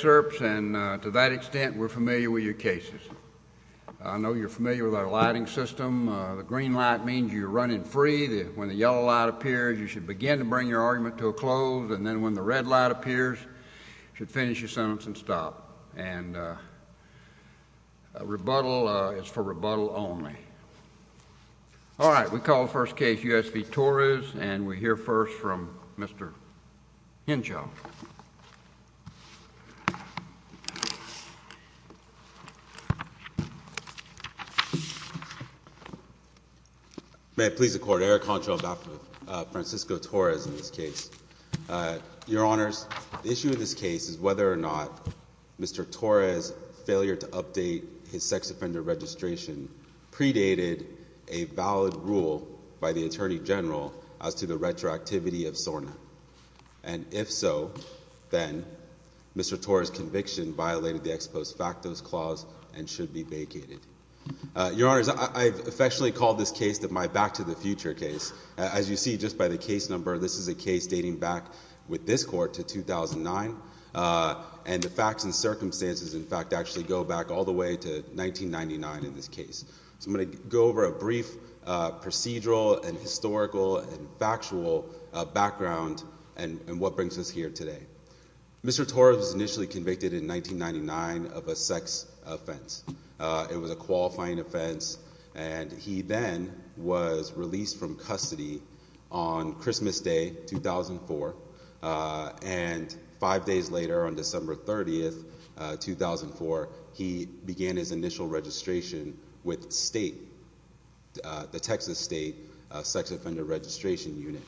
And to that extent, we're familiar with your cases. I know you're familiar with our lighting system. The green light means you're running free. When the yellow light appears, you should begin to bring your argument to a close. And then when the red light appears, you should finish your sentence and stop. And rebuttal is for rebuttal only. All right. We call the first case U.S. v. Torres. And we hear first from Mr. Hinjo. May it please the Court. Eric Honcho, Dr. Francisco Torres in this case. Your Honors, the issue in this case is whether or not Mr. Torres' failure to update his sex offender registration predated a valid rule by the Attorney General as to the retroactivity of SORNA. And if so, then Mr. Torres' conviction violated the Ex Post Factos Clause and should be vacated. Your Honors, I've affectionately called this case my back to the future case. As you see just by the case number, this is a case dating back with this Court to 2009. And the facts and circumstances, in fact, actually go back all the way to 1999 in this case. So I'm going to go over a brief procedural and historical and factual background and what brings us here today. Mr. Torres was initially convicted in 1999 of a sex offense. It was a qualifying offense. And he then was released from custody on Christmas Day, 2004. And five days later, on December 30th, 2004, he began his initial registration with the Texas State Sex Offender Registration Unit.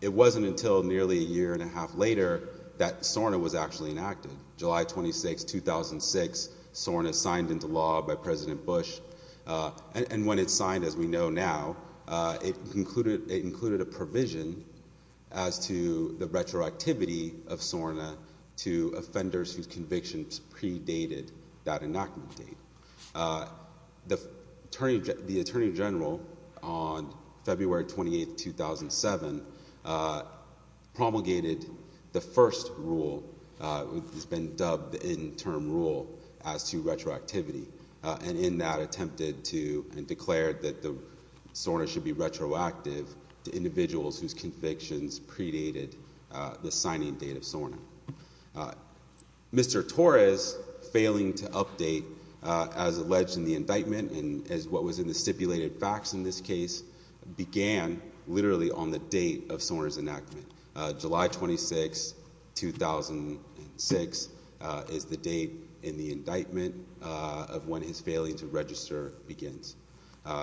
It wasn't until nearly a year and a half later that SORNA was actually enacted. July 26, 2006, SORNA signed into law by President Bush. And when it signed, as we know now, it included a provision as to the retroactivity of SORNA to offenders whose convictions predated that inoculant date. The Attorney General, on February 28, 2007, promulgated the first rule, which has been dubbed the interim rule, as to retroactivity. And in that, attempted to and declared that SORNA should be retroactive to individuals whose convictions predated the signing date of SORNA. Mr. Torres failing to update as alleged in the indictment, and as what was in the stipulated facts in this case, began literally on the date of SORNA's enactment. July 26, 2006 is the date in the indictment of when his failing to register begins.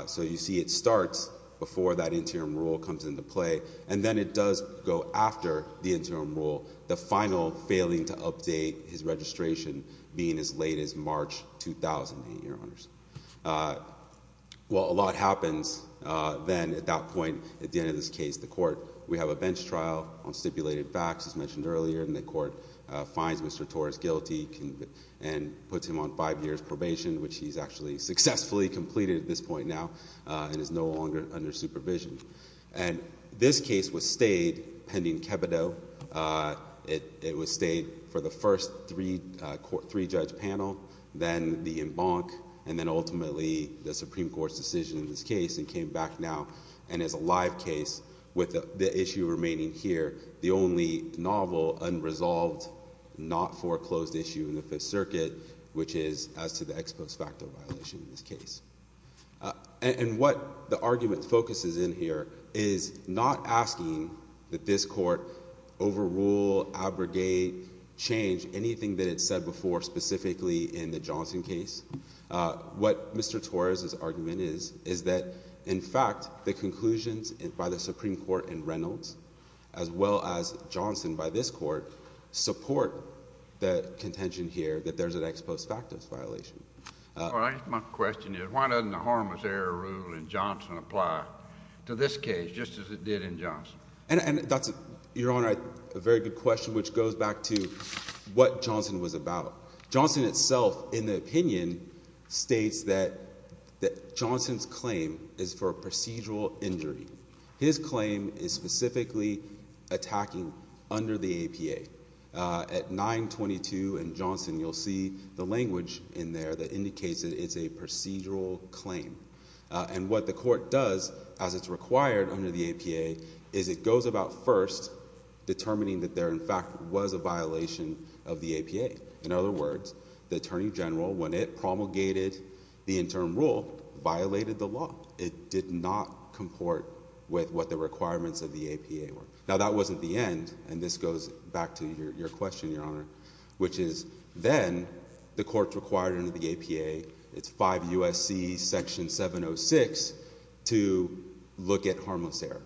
So you see it starts before that interim rule comes into play, and then it does go after the interim rule. The final failing to update his registration being as late as March 2008, Your Honors. While a lot happens then at that point, at the end of this case, the court, we have a bench trial on stipulated facts, as mentioned earlier. And the court finds Mr. Torres guilty, and puts him on five years probation, which he's actually successfully completed at this point now, and is no longer under supervision. And this case was stayed pending Kebido. It was stayed for the first three-judge panel, then the embank, and then ultimately the Supreme Court's decision in this case, and came back now. And as a live case, with the issue remaining here, the only novel, unresolved, not foreclosed issue in the Fifth Circuit, which is as to the ex post facto violation in this case. And what the argument focuses in here is not asking that this court overrule, abrogate, change anything that it said before, specifically in the Johnson case. What Mr. Torres' argument is, is that, in fact, the conclusions by the Supreme Court in Reynolds, as well as Johnson by this court, support the contention here that there's an ex post facto violation. My question is why doesn't the Hormuz error rule in Johnson apply to this case just as it did in Johnson? And that's, Your Honor, a very good question, which goes back to what Johnson was about. Johnson itself, in the opinion, states that Johnson's claim is for procedural injury. His claim is specifically attacking under the APA. At 922 in Johnson, you'll see the language in there that indicates that it's a procedural claim. And what the court does, as it's required under the APA, is it goes about first determining that there, in fact, was a violation of the APA. In other words, the attorney general, when it promulgated the interim rule, violated the law. It did not comport with what the requirements of the APA were. Now, that wasn't the end, and this goes back to your question, Your Honor, which is then the court's required under the APA, it's 5 U.S.C. section 706, to look at harmless error.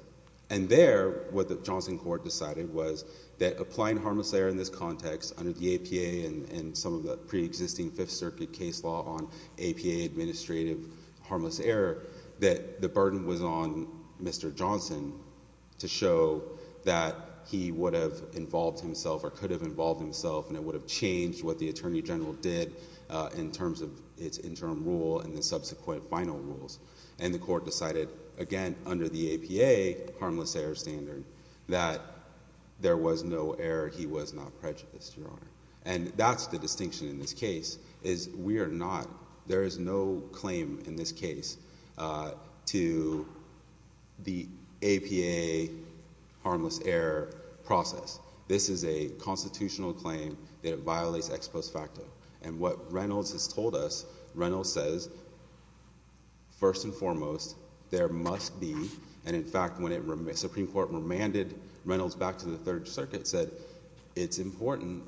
And there, what the Johnson court decided was that applying harmless error in this context under the APA and some of the preexisting Fifth Circuit case law on APA administrative harmless error, that the burden was on Mr. Johnson to show that he would have involved himself or could have involved himself, and it would have changed what the attorney general did in terms of its interim rule and the subsequent final rules. And the court decided, again, under the APA harmless error standard, that there was no error, he was not prejudiced, Your Honor. And that's the distinction in this case, is we are not, there is no claim in this case to the APA harmless error process. This is a constitutional claim that it violates ex post facto. And what Reynolds has told us, Reynolds says, first and foremost, there must be, and in fact, when the Supreme Court remanded Reynolds back to the Third Circuit, said it's important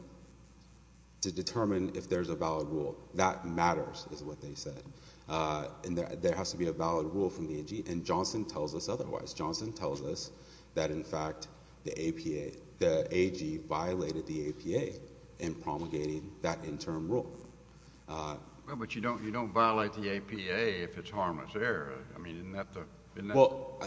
to determine if there's a valid rule. That matters, is what they said. And there has to be a valid rule from the AG, and Johnson tells us otherwise. Johnson tells us that, in fact, the AG violated the APA in promulgating that interim rule. Well, but you don't violate the APA if it's harmless error. I mean, isn't that the— Well,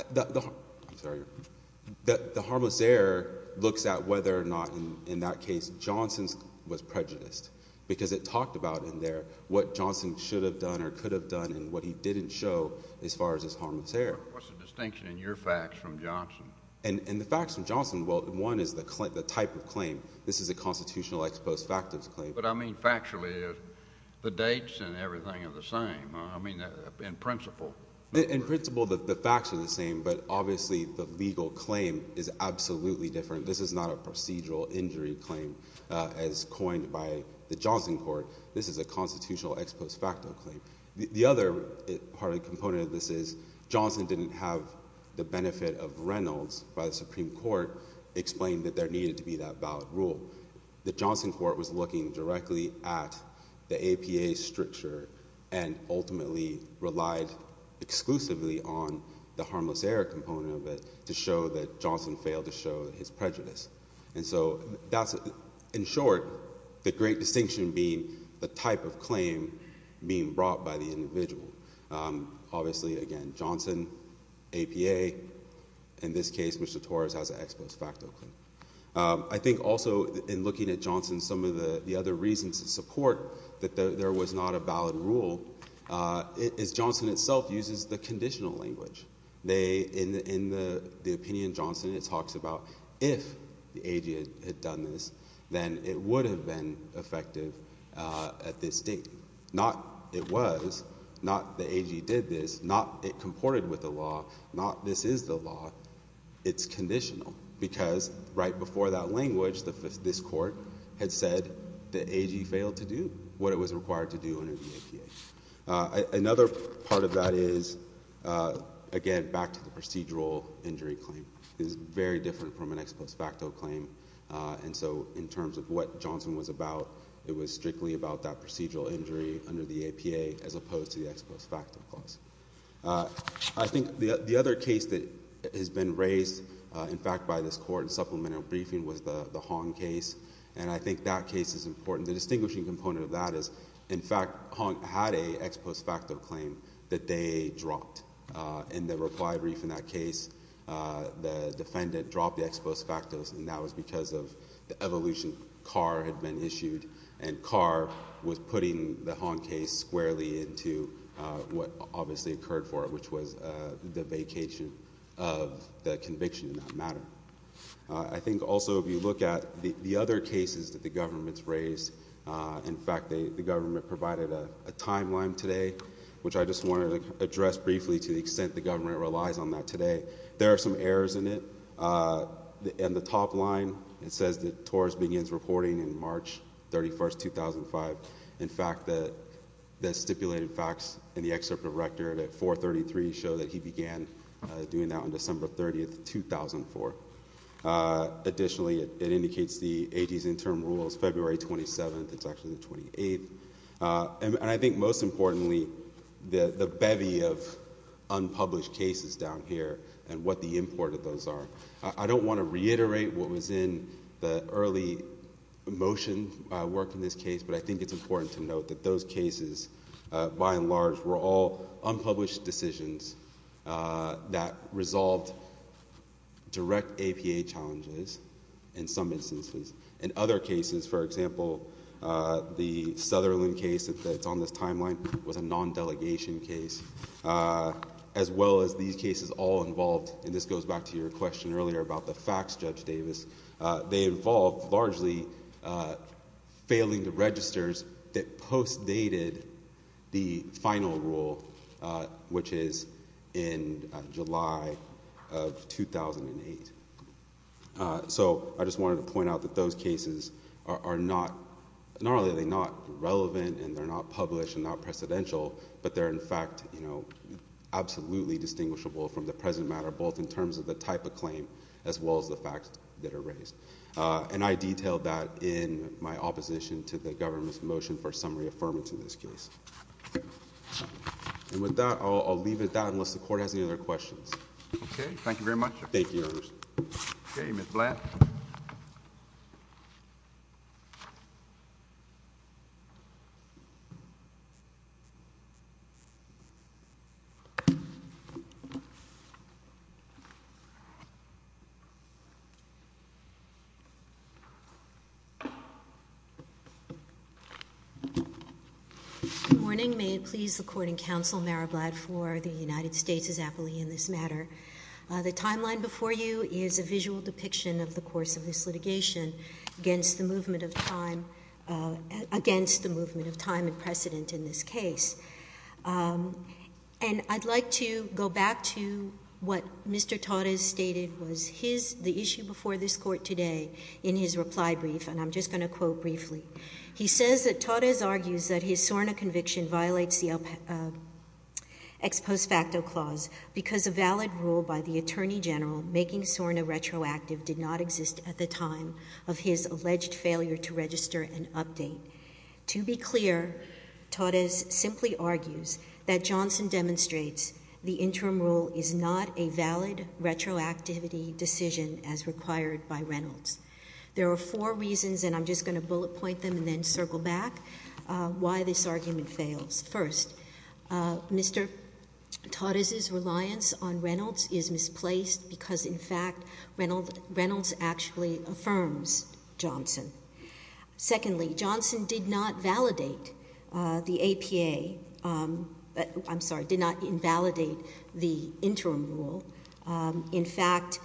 the harmless error looks at whether or not, in that case, Johnson was prejudiced, because it talked about in there what Johnson should have done or could have done and what he didn't show as far as his harmless error. What's the distinction in your facts from Johnson? And the facts from Johnson, well, one is the type of claim. This is a constitutional ex post facto claim. But I mean factually, the dates and everything are the same. I mean, in principle. In principle, the facts are the same, but obviously the legal claim is absolutely different. This is not a procedural injury claim as coined by the Johnson court. This is a constitutional ex post facto claim. The other part and component of this is Johnson didn't have the benefit of Reynolds by the Supreme Court explain that there needed to be that valid rule. The Johnson court was looking directly at the APA stricture and ultimately relied exclusively on the harmless error component of it to show that Johnson failed to show his prejudice. And so that's, in short, the great distinction being the type of claim being brought by the individual. Obviously, again, Johnson, APA, in this case, Mr. Torres has an ex post facto claim. I think also in looking at Johnson, some of the other reasons to support that there was not a valid rule is Johnson itself uses the conditional language. In the opinion Johnson, it talks about if the AG had done this, then it would have been effective at this date. Not it was, not the AG did this, not it comported with the law, not this is the law. It's conditional because right before that language, this court had said the AG failed to do what it was required to do under the APA. Another part of that is, again, back to the procedural injury claim. It is very different from an ex post facto claim. And so in terms of what Johnson was about, it was strictly about that procedural injury under the APA as opposed to the ex post facto clause. I think the other case that has been raised, in fact, by this court in supplemental briefing was the Hong case. And I think that case is important. The distinguishing component of that is, in fact, Hong had an ex post facto claim that they dropped. In the reply brief in that case, the defendant dropped the ex post facto, and that was because of the evolution. Carr had been issued, and Carr was putting the Hong case squarely into what obviously occurred for it, which was the vacation of the conviction in that matter. I think also if you look at the other cases that the government's raised, in fact, the government provided a timeline today, which I just wanted to address briefly to the extent the government relies on that today. There are some errors in it. In the top line, it says that Torres begins reporting in March 31, 2005. In fact, the stipulated facts in the excerpt of Rector at 433 show that he began doing that on December 30, 2004. Additionally, it indicates the AG's interim rules, February 27th. It's actually the 28th. And I think most importantly, the bevy of unpublished cases down here and what the import of those are. I don't want to reiterate what was in the early motion work in this case, but I think it's important to note that those cases, by and large, were all unpublished decisions that resolved direct APA challenges in some instances. In other cases, for example, the Sutherland case that's on this timeline was a non-delegation case, as well as these cases all involved. And this goes back to your question earlier about the facts, Judge Davis. They involved largely failing the registers that post-dated the final rule, which is in July of 2008. So I just wanted to point out that those cases are not—not only are they not relevant and they're not published and not precedential, but they're, in fact, absolutely distinguishable from the present matter, both in terms of the type of claim as well as the facts that are raised. And I detailed that in my opposition to the government's motion for summary affirmance in this case. And with that, I'll leave it at that unless the Court has any other questions. Okay. Thank you very much. Thank you, Your Honor. Okay. Ms. Blatt. Good morning. May it please the Court and counsel, Mayor Blatt, for the United States' appellee in this matter. The timeline before you is a visual depiction of the course of this litigation against the movement of time—against the movement of time and precedent in this case. And I'd like to go back to what Mr. Torres stated was his—the issue before this Court today in his reply brief, and I'm just going to quote briefly. He says that Torres argues that his SORNA conviction violates the ex post facto clause because a valid rule by the Attorney General making SORNA retroactive did not exist at the time of his alleged failure to register an update. To be clear, Torres simply argues that Johnson demonstrates the interim rule is not a valid retroactivity decision as required by Reynolds. There are four reasons, and I'm just going to bullet point them and then circle back, why this argument fails. First, Mr. Torres' reliance on Reynolds is misplaced because, in fact, Reynolds actually affirms Johnson. Secondly, Johnson did not validate the APA—I'm sorry, did not invalidate the interim rule. In fact,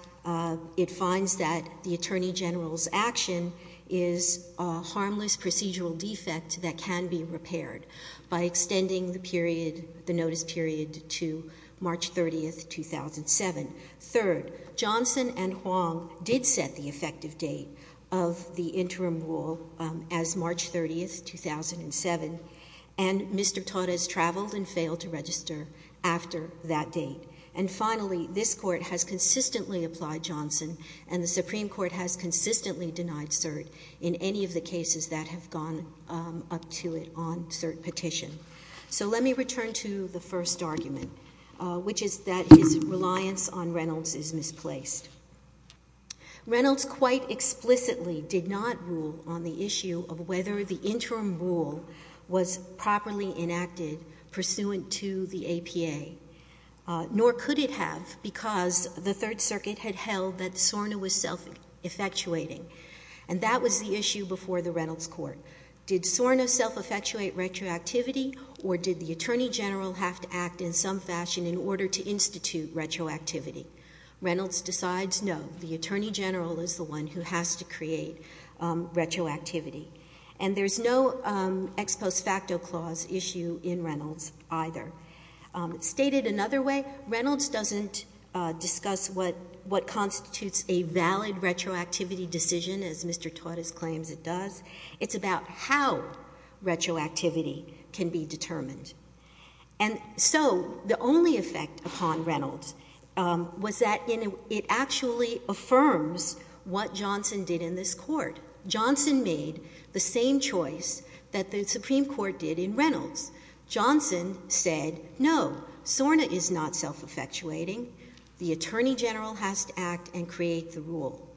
it finds that the Attorney General's action is a harmless procedural defect that can be repaired by extending the period—the notice period to March 30, 2007. Third, Johnson and Huang did set the effective date of the interim rule as March 30, 2007, and Mr. Torres traveled and failed to register after that date. And finally, this Court has consistently applied Johnson, and the Supreme Court has consistently denied cert in any of the cases that have gone up to it on cert petition. So let me return to the first argument, which is that his reliance on Reynolds is misplaced. Reynolds quite explicitly did not rule on the issue of whether the interim rule was properly enacted pursuant to the APA. Nor could it have because the Third Circuit had held that SORNA was self-effectuating, and that was the issue before the Reynolds Court. Did SORNA self-effectuate retroactivity, or did the Attorney General have to act in some fashion in order to institute retroactivity? Reynolds decides no. The Attorney General is the one who has to create retroactivity. And there's no ex post facto clause issue in Reynolds either. Stated another way, Reynolds doesn't discuss what constitutes a valid retroactivity decision, as Mr. Torres claims it does. It's about how retroactivity can be determined. And so the only effect upon Reynolds was that it actually affirms what Johnson did in this Court. Johnson made the same choice that the Supreme Court did in Reynolds. Johnson said no, SORNA is not self-effectuating. The Attorney General has to act and create the rule.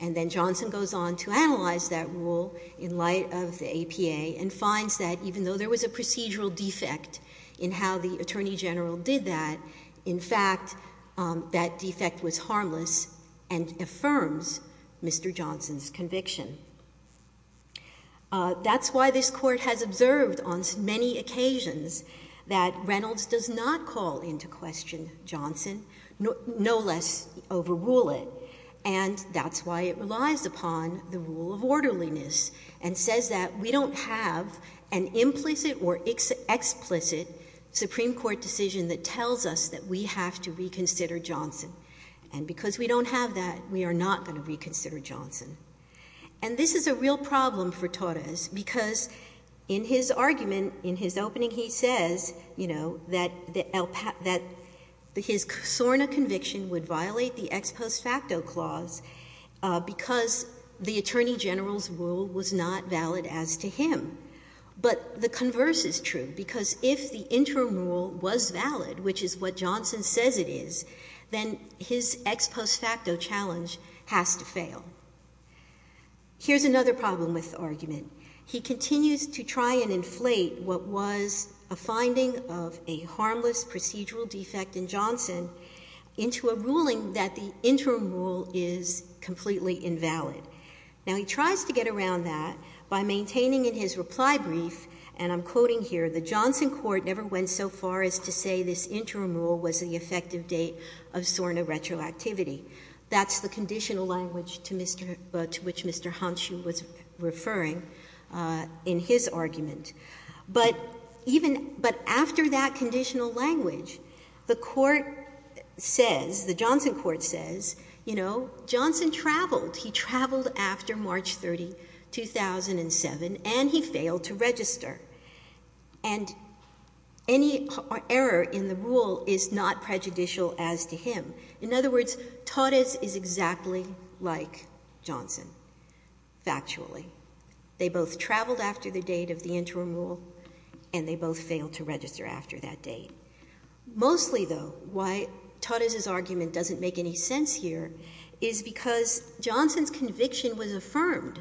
And then Johnson goes on to analyze that rule in light of the APA and finds that even though there was a procedural defect in how the Attorney General did that, in fact, that defect was harmless and affirms Mr. Johnson's conviction. That's why this Court has observed on many occasions that Reynolds does not call into question Johnson, no less overrule it. And that's why it relies upon the rule of orderliness and says that we don't have an implicit or explicit Supreme Court decision that tells us that we have to reconsider Johnson. And because we don't have that, we are not going to reconsider Johnson. And this is a real problem for Torres because in his argument, in his opening, he says, you know, that his SORNA conviction would violate the ex post facto clause because the Attorney General's rule was not valid as to him. But the converse is true because if the interim rule was valid, which is what Johnson says it is, then his ex post facto challenge has to fail. Here's another problem with the argument. He continues to try and inflate what was a finding of a harmless procedural defect in Johnson into a ruling that the interim rule is completely invalid. Now, he tries to get around that by maintaining in his reply brief, and I'm quoting here, the Johnson court never went so far as to say this interim rule was the effective date of SORNA retroactivity. That's the conditional language to which Mr. Honshu was referring in his argument. But after that conditional language, the court says, the Johnson court says, you know, Johnson traveled. He traveled after March 30, 2007, and he failed to register. And any error in the rule is not prejudicial as to him. In other words, Torres is exactly like Johnson, factually. They both traveled after the date of the interim rule, and they both failed to register after that date. Mostly, though, why Torres' argument doesn't make any sense here is because Johnson's conviction was affirmed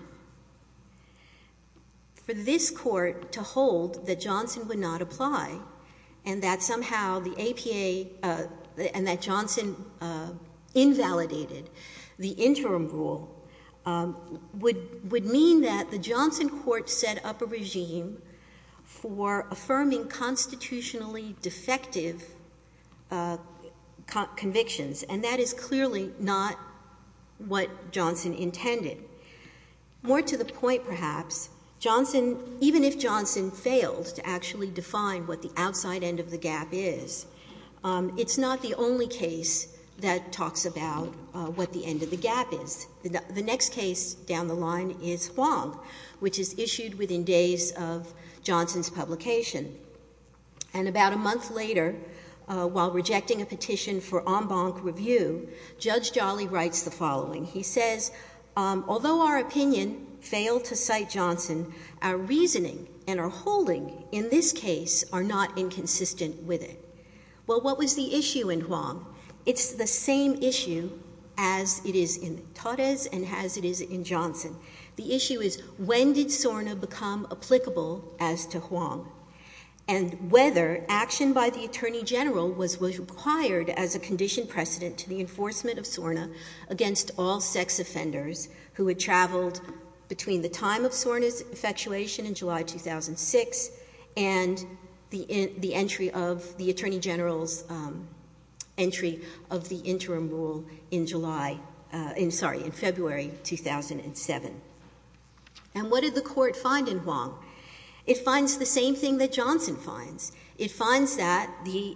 for this court to hold that Johnson would not apply, and that somehow the APA and that Johnson invalidated the interim rule would mean that the Johnson court set up a regime for affirming constitutionally defective convictions, and that is clearly not what Johnson intended. More to the point, perhaps, Johnson, even if Johnson failed to actually define what the outside end of the gap is, it's not the only case that talks about what the end of the gap is. The next case down the line is Huang, which is issued within days of Johnson's publication. And about a month later, while rejecting a petition for en banc review, Judge Jolly writes the following. He says, although our opinion failed to cite Johnson, our reasoning and our holding in this case are not inconsistent with it. Well, what was the issue in Huang? It's the same issue as it is in Torres and as it is in Johnson. The issue is when did SORNA become applicable as to Huang, and whether action by the attorney general was required as a conditioned precedent to the enforcement of SORNA against all sex offenders who had traveled between the time of SORNA's effectuation in July 2006 and the entry of the attorney general's entry of the interim rule in February 2007. And what did the court find in Huang? It finds the same thing that Johnson finds. It finds that the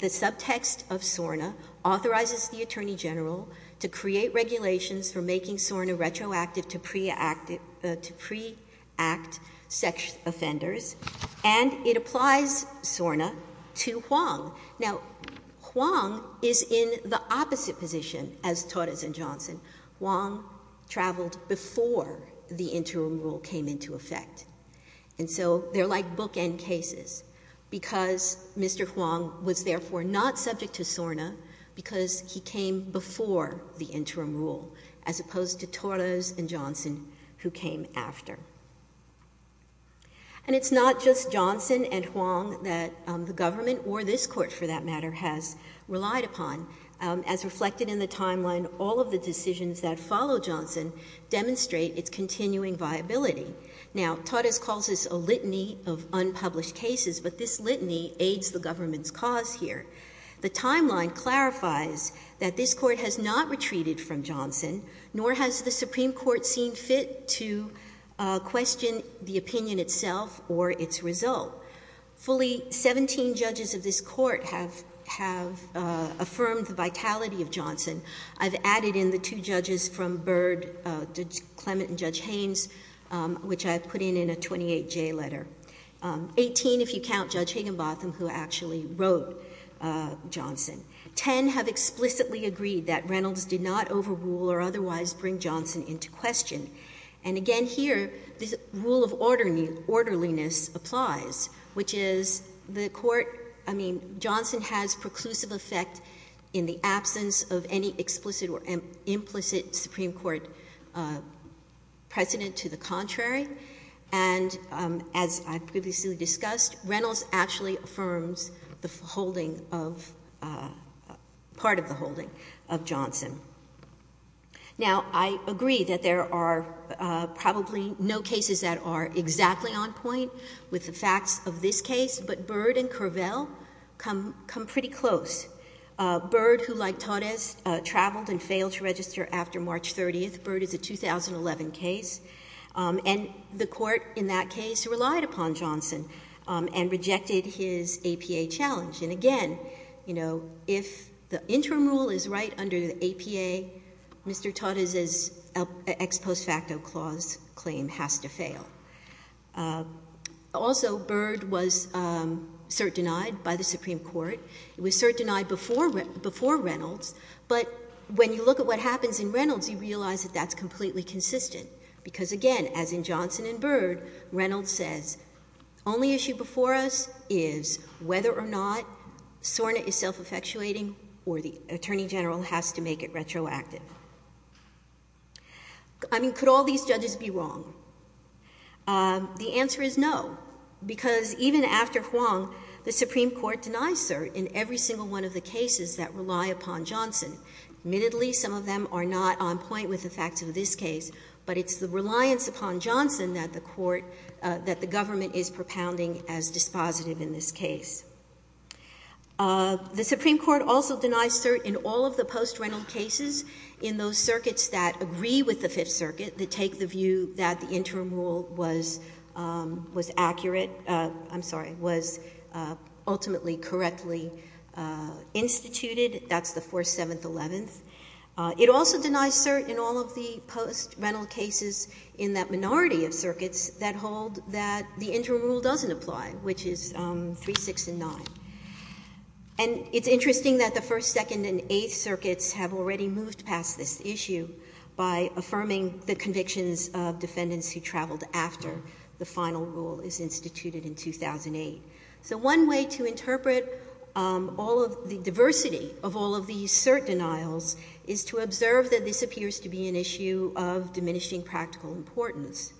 subtext of SORNA authorizes the attorney general to create regulations for making SORNA retroactive to pre-act sex offenders, and it applies SORNA to Huang. Now, Huang is in the opposite position as Torres and Johnson. Huang traveled before the interim rule came into effect. And so they're like bookend cases because Mr. Huang was therefore not subject to SORNA because he came before the interim rule, as opposed to Torres and Johnson, who came after. And it's not just Johnson and Huang that the government or this court, for that matter, has relied upon. As reflected in the timeline, all of the decisions that follow Johnson demonstrate its continuing viability. Now, Torres calls this a litany of unpublished cases, but this litany aids the government's cause here. The timeline clarifies that this court has not retreated from Johnson, nor has the Supreme Court seen fit to question the opinion itself or its result. Fully 17 judges of this court have affirmed the vitality of Johnson. I've added in the two judges from Byrd, Judge Clement and Judge Haynes, which I've put in in a 28-J letter. Eighteen, if you count Judge Higginbotham, who actually wrote Johnson. Ten have explicitly agreed that Reynolds did not overrule or otherwise bring Johnson into question. And again here, this rule of orderliness applies, which is the court, I mean, Johnson has preclusive effect in the absence of any explicit or implicit Supreme Court precedent to the contrary. And as I previously discussed, Reynolds actually affirms the holding of, part of the holding of Johnson. Now, I agree that there are probably no cases that are exactly on point with the facts of this case, but Byrd and Curvell come pretty close. Byrd, who like Torres, traveled and failed to register after March 30th. Byrd is a 2011 case. And the court in that case relied upon Johnson and rejected his APA challenge. And again, you know, if the interim rule is right under the APA, Mr. Torres' ex post facto clause claim has to fail. Also, Byrd was cert denied by the Supreme Court. It was cert denied before Reynolds. But when you look at what happens in Reynolds, you realize that that's completely consistent. Because again, as in Johnson and Byrd, Reynolds says, only issue before us is whether or not SORNA is self-effectuating or the Attorney General has to make it retroactive. I mean, could all these judges be wrong? The answer is no. Because even after Huang, the Supreme Court denies cert in every single one of the cases that rely upon Johnson. Admittedly, some of them are not on point with the facts of this case. But it's the reliance upon Johnson that the court, that the government is propounding as dispositive in this case. The Supreme Court also denies cert in all of the post-Reynolds cases in those circuits that agree with the Fifth Circuit, that take the view that the interim rule was accurate, I'm sorry, was ultimately correctly instituted. That's the 4th, 7th, 11th. It also denies cert in all of the post-Reynolds cases in that minority of circuits that hold that the interim rule doesn't apply, which is 3, 6, and 9. And it's interesting that the 1st, 2nd, and 8th circuits have already moved past this issue by affirming the convictions of defendants who traveled after the final rule is instituted in 2008. So one way to interpret all of the diversity of all of these cert denials is to observe that this appears to be an issue of diminishing practical importance.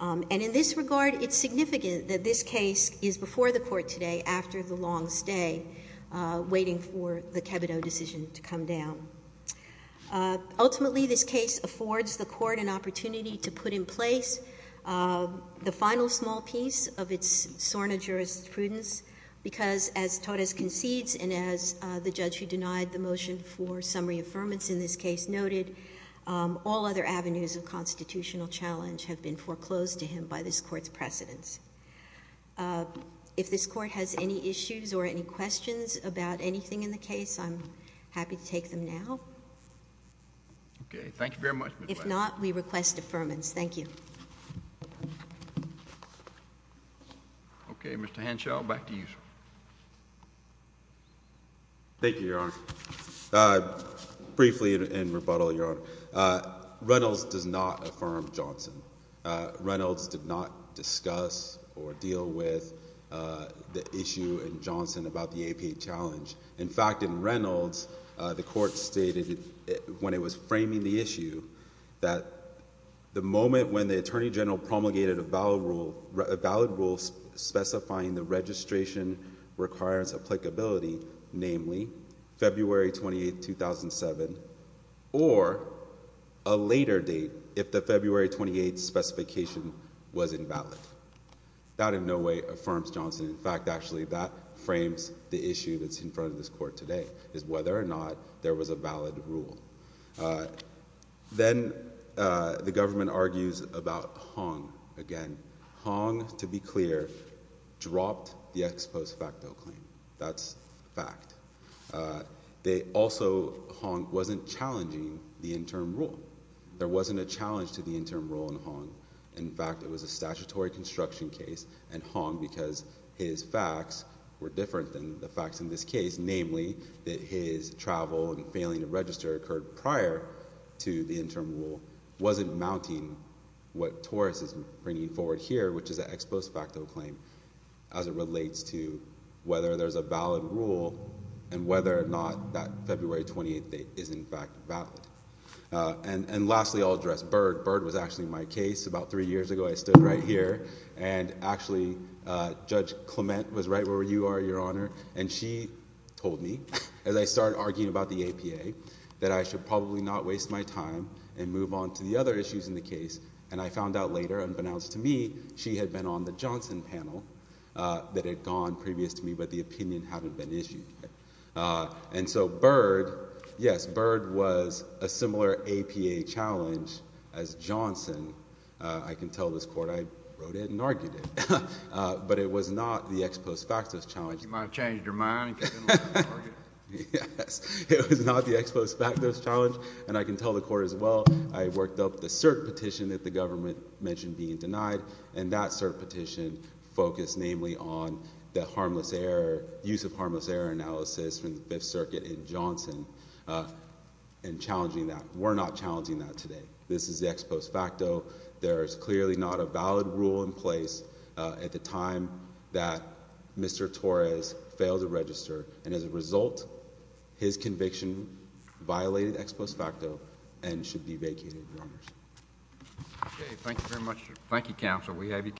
And in this regard, it's significant that this case is before the court today after the long stay, waiting for the Kebido decision to come down. Ultimately, this case affords the court an opportunity to put in place the final small piece of its SORNA jurisprudence, because as Torres concedes and as the judge who denied the motion for summary affirmance in this case noted, all other avenues of constitutional challenge have been foreclosed to him by this court's precedence. If this court has any issues or any questions about anything in the case, I'm happy to take them now. If not, we request affirmance. Thank you. Okay. Mr. Henshaw, back to you, sir. Thank you, Your Honor. Briefly in rebuttal, Your Honor, Reynolds does not affirm Johnson. Reynolds did not discuss or deal with the issue in Johnson about the APA challenge. In fact, in Reynolds, the court stated when it was framing the issue that the moment when the attorney general promulgated a valid rule specifying the registration requires applicability, namely February 28th, 2007, or a later date if the February 28th specification was invalid. That in no way affirms Johnson. In fact, actually, that frames the issue that's in front of this court today, is whether or not there was a valid rule. Then the government argues about Hong again. Hong, to be clear, dropped the ex post facto claim. That's fact. Also, Hong wasn't challenging the interim rule. There wasn't a challenge to the interim rule in Hong. In fact, it was a statutory construction case in Hong because his facts were different than the facts in this case, namely that his travel and failing to register occurred prior to the interim rule. Wasn't mounting what Torres is bringing forward here, which is the ex post facto claim, as it relates to whether there's a valid rule and whether or not that February 28th date is in fact valid. And lastly, I'll address Byrd. Byrd was actually my case. About three years ago, I stood right here, and actually, Judge Clement was right where you are, Your Honor. And she told me, as I started arguing about the APA, that I should probably not waste my time and move on to the other issues in the case. And I found out later, unbeknownst to me, she had been on the Johnson panel that had gone previous to me, but the opinion hadn't been issued. And so Byrd, yes, Byrd was a similar APA challenge as Johnson. I can tell this court I wrote it and argued it, but it was not the ex post facto challenge. You might have changed your mind. Yes, it was not the ex post facto challenge. And I can tell the court as well, I worked up the cert petition that the government mentioned being denied, and that cert petition focused namely on the harmless error, use of harmless error analysis from the Fifth Circuit in Johnson and challenging that. We're not challenging that today. This is the ex post facto. There is clearly not a valid rule in place at the time that Mr. Torres failed to register. And as a result, his conviction violated ex post facto and should be vacated, Your Honor. Okay. Thank you very much. Thank you, counsel.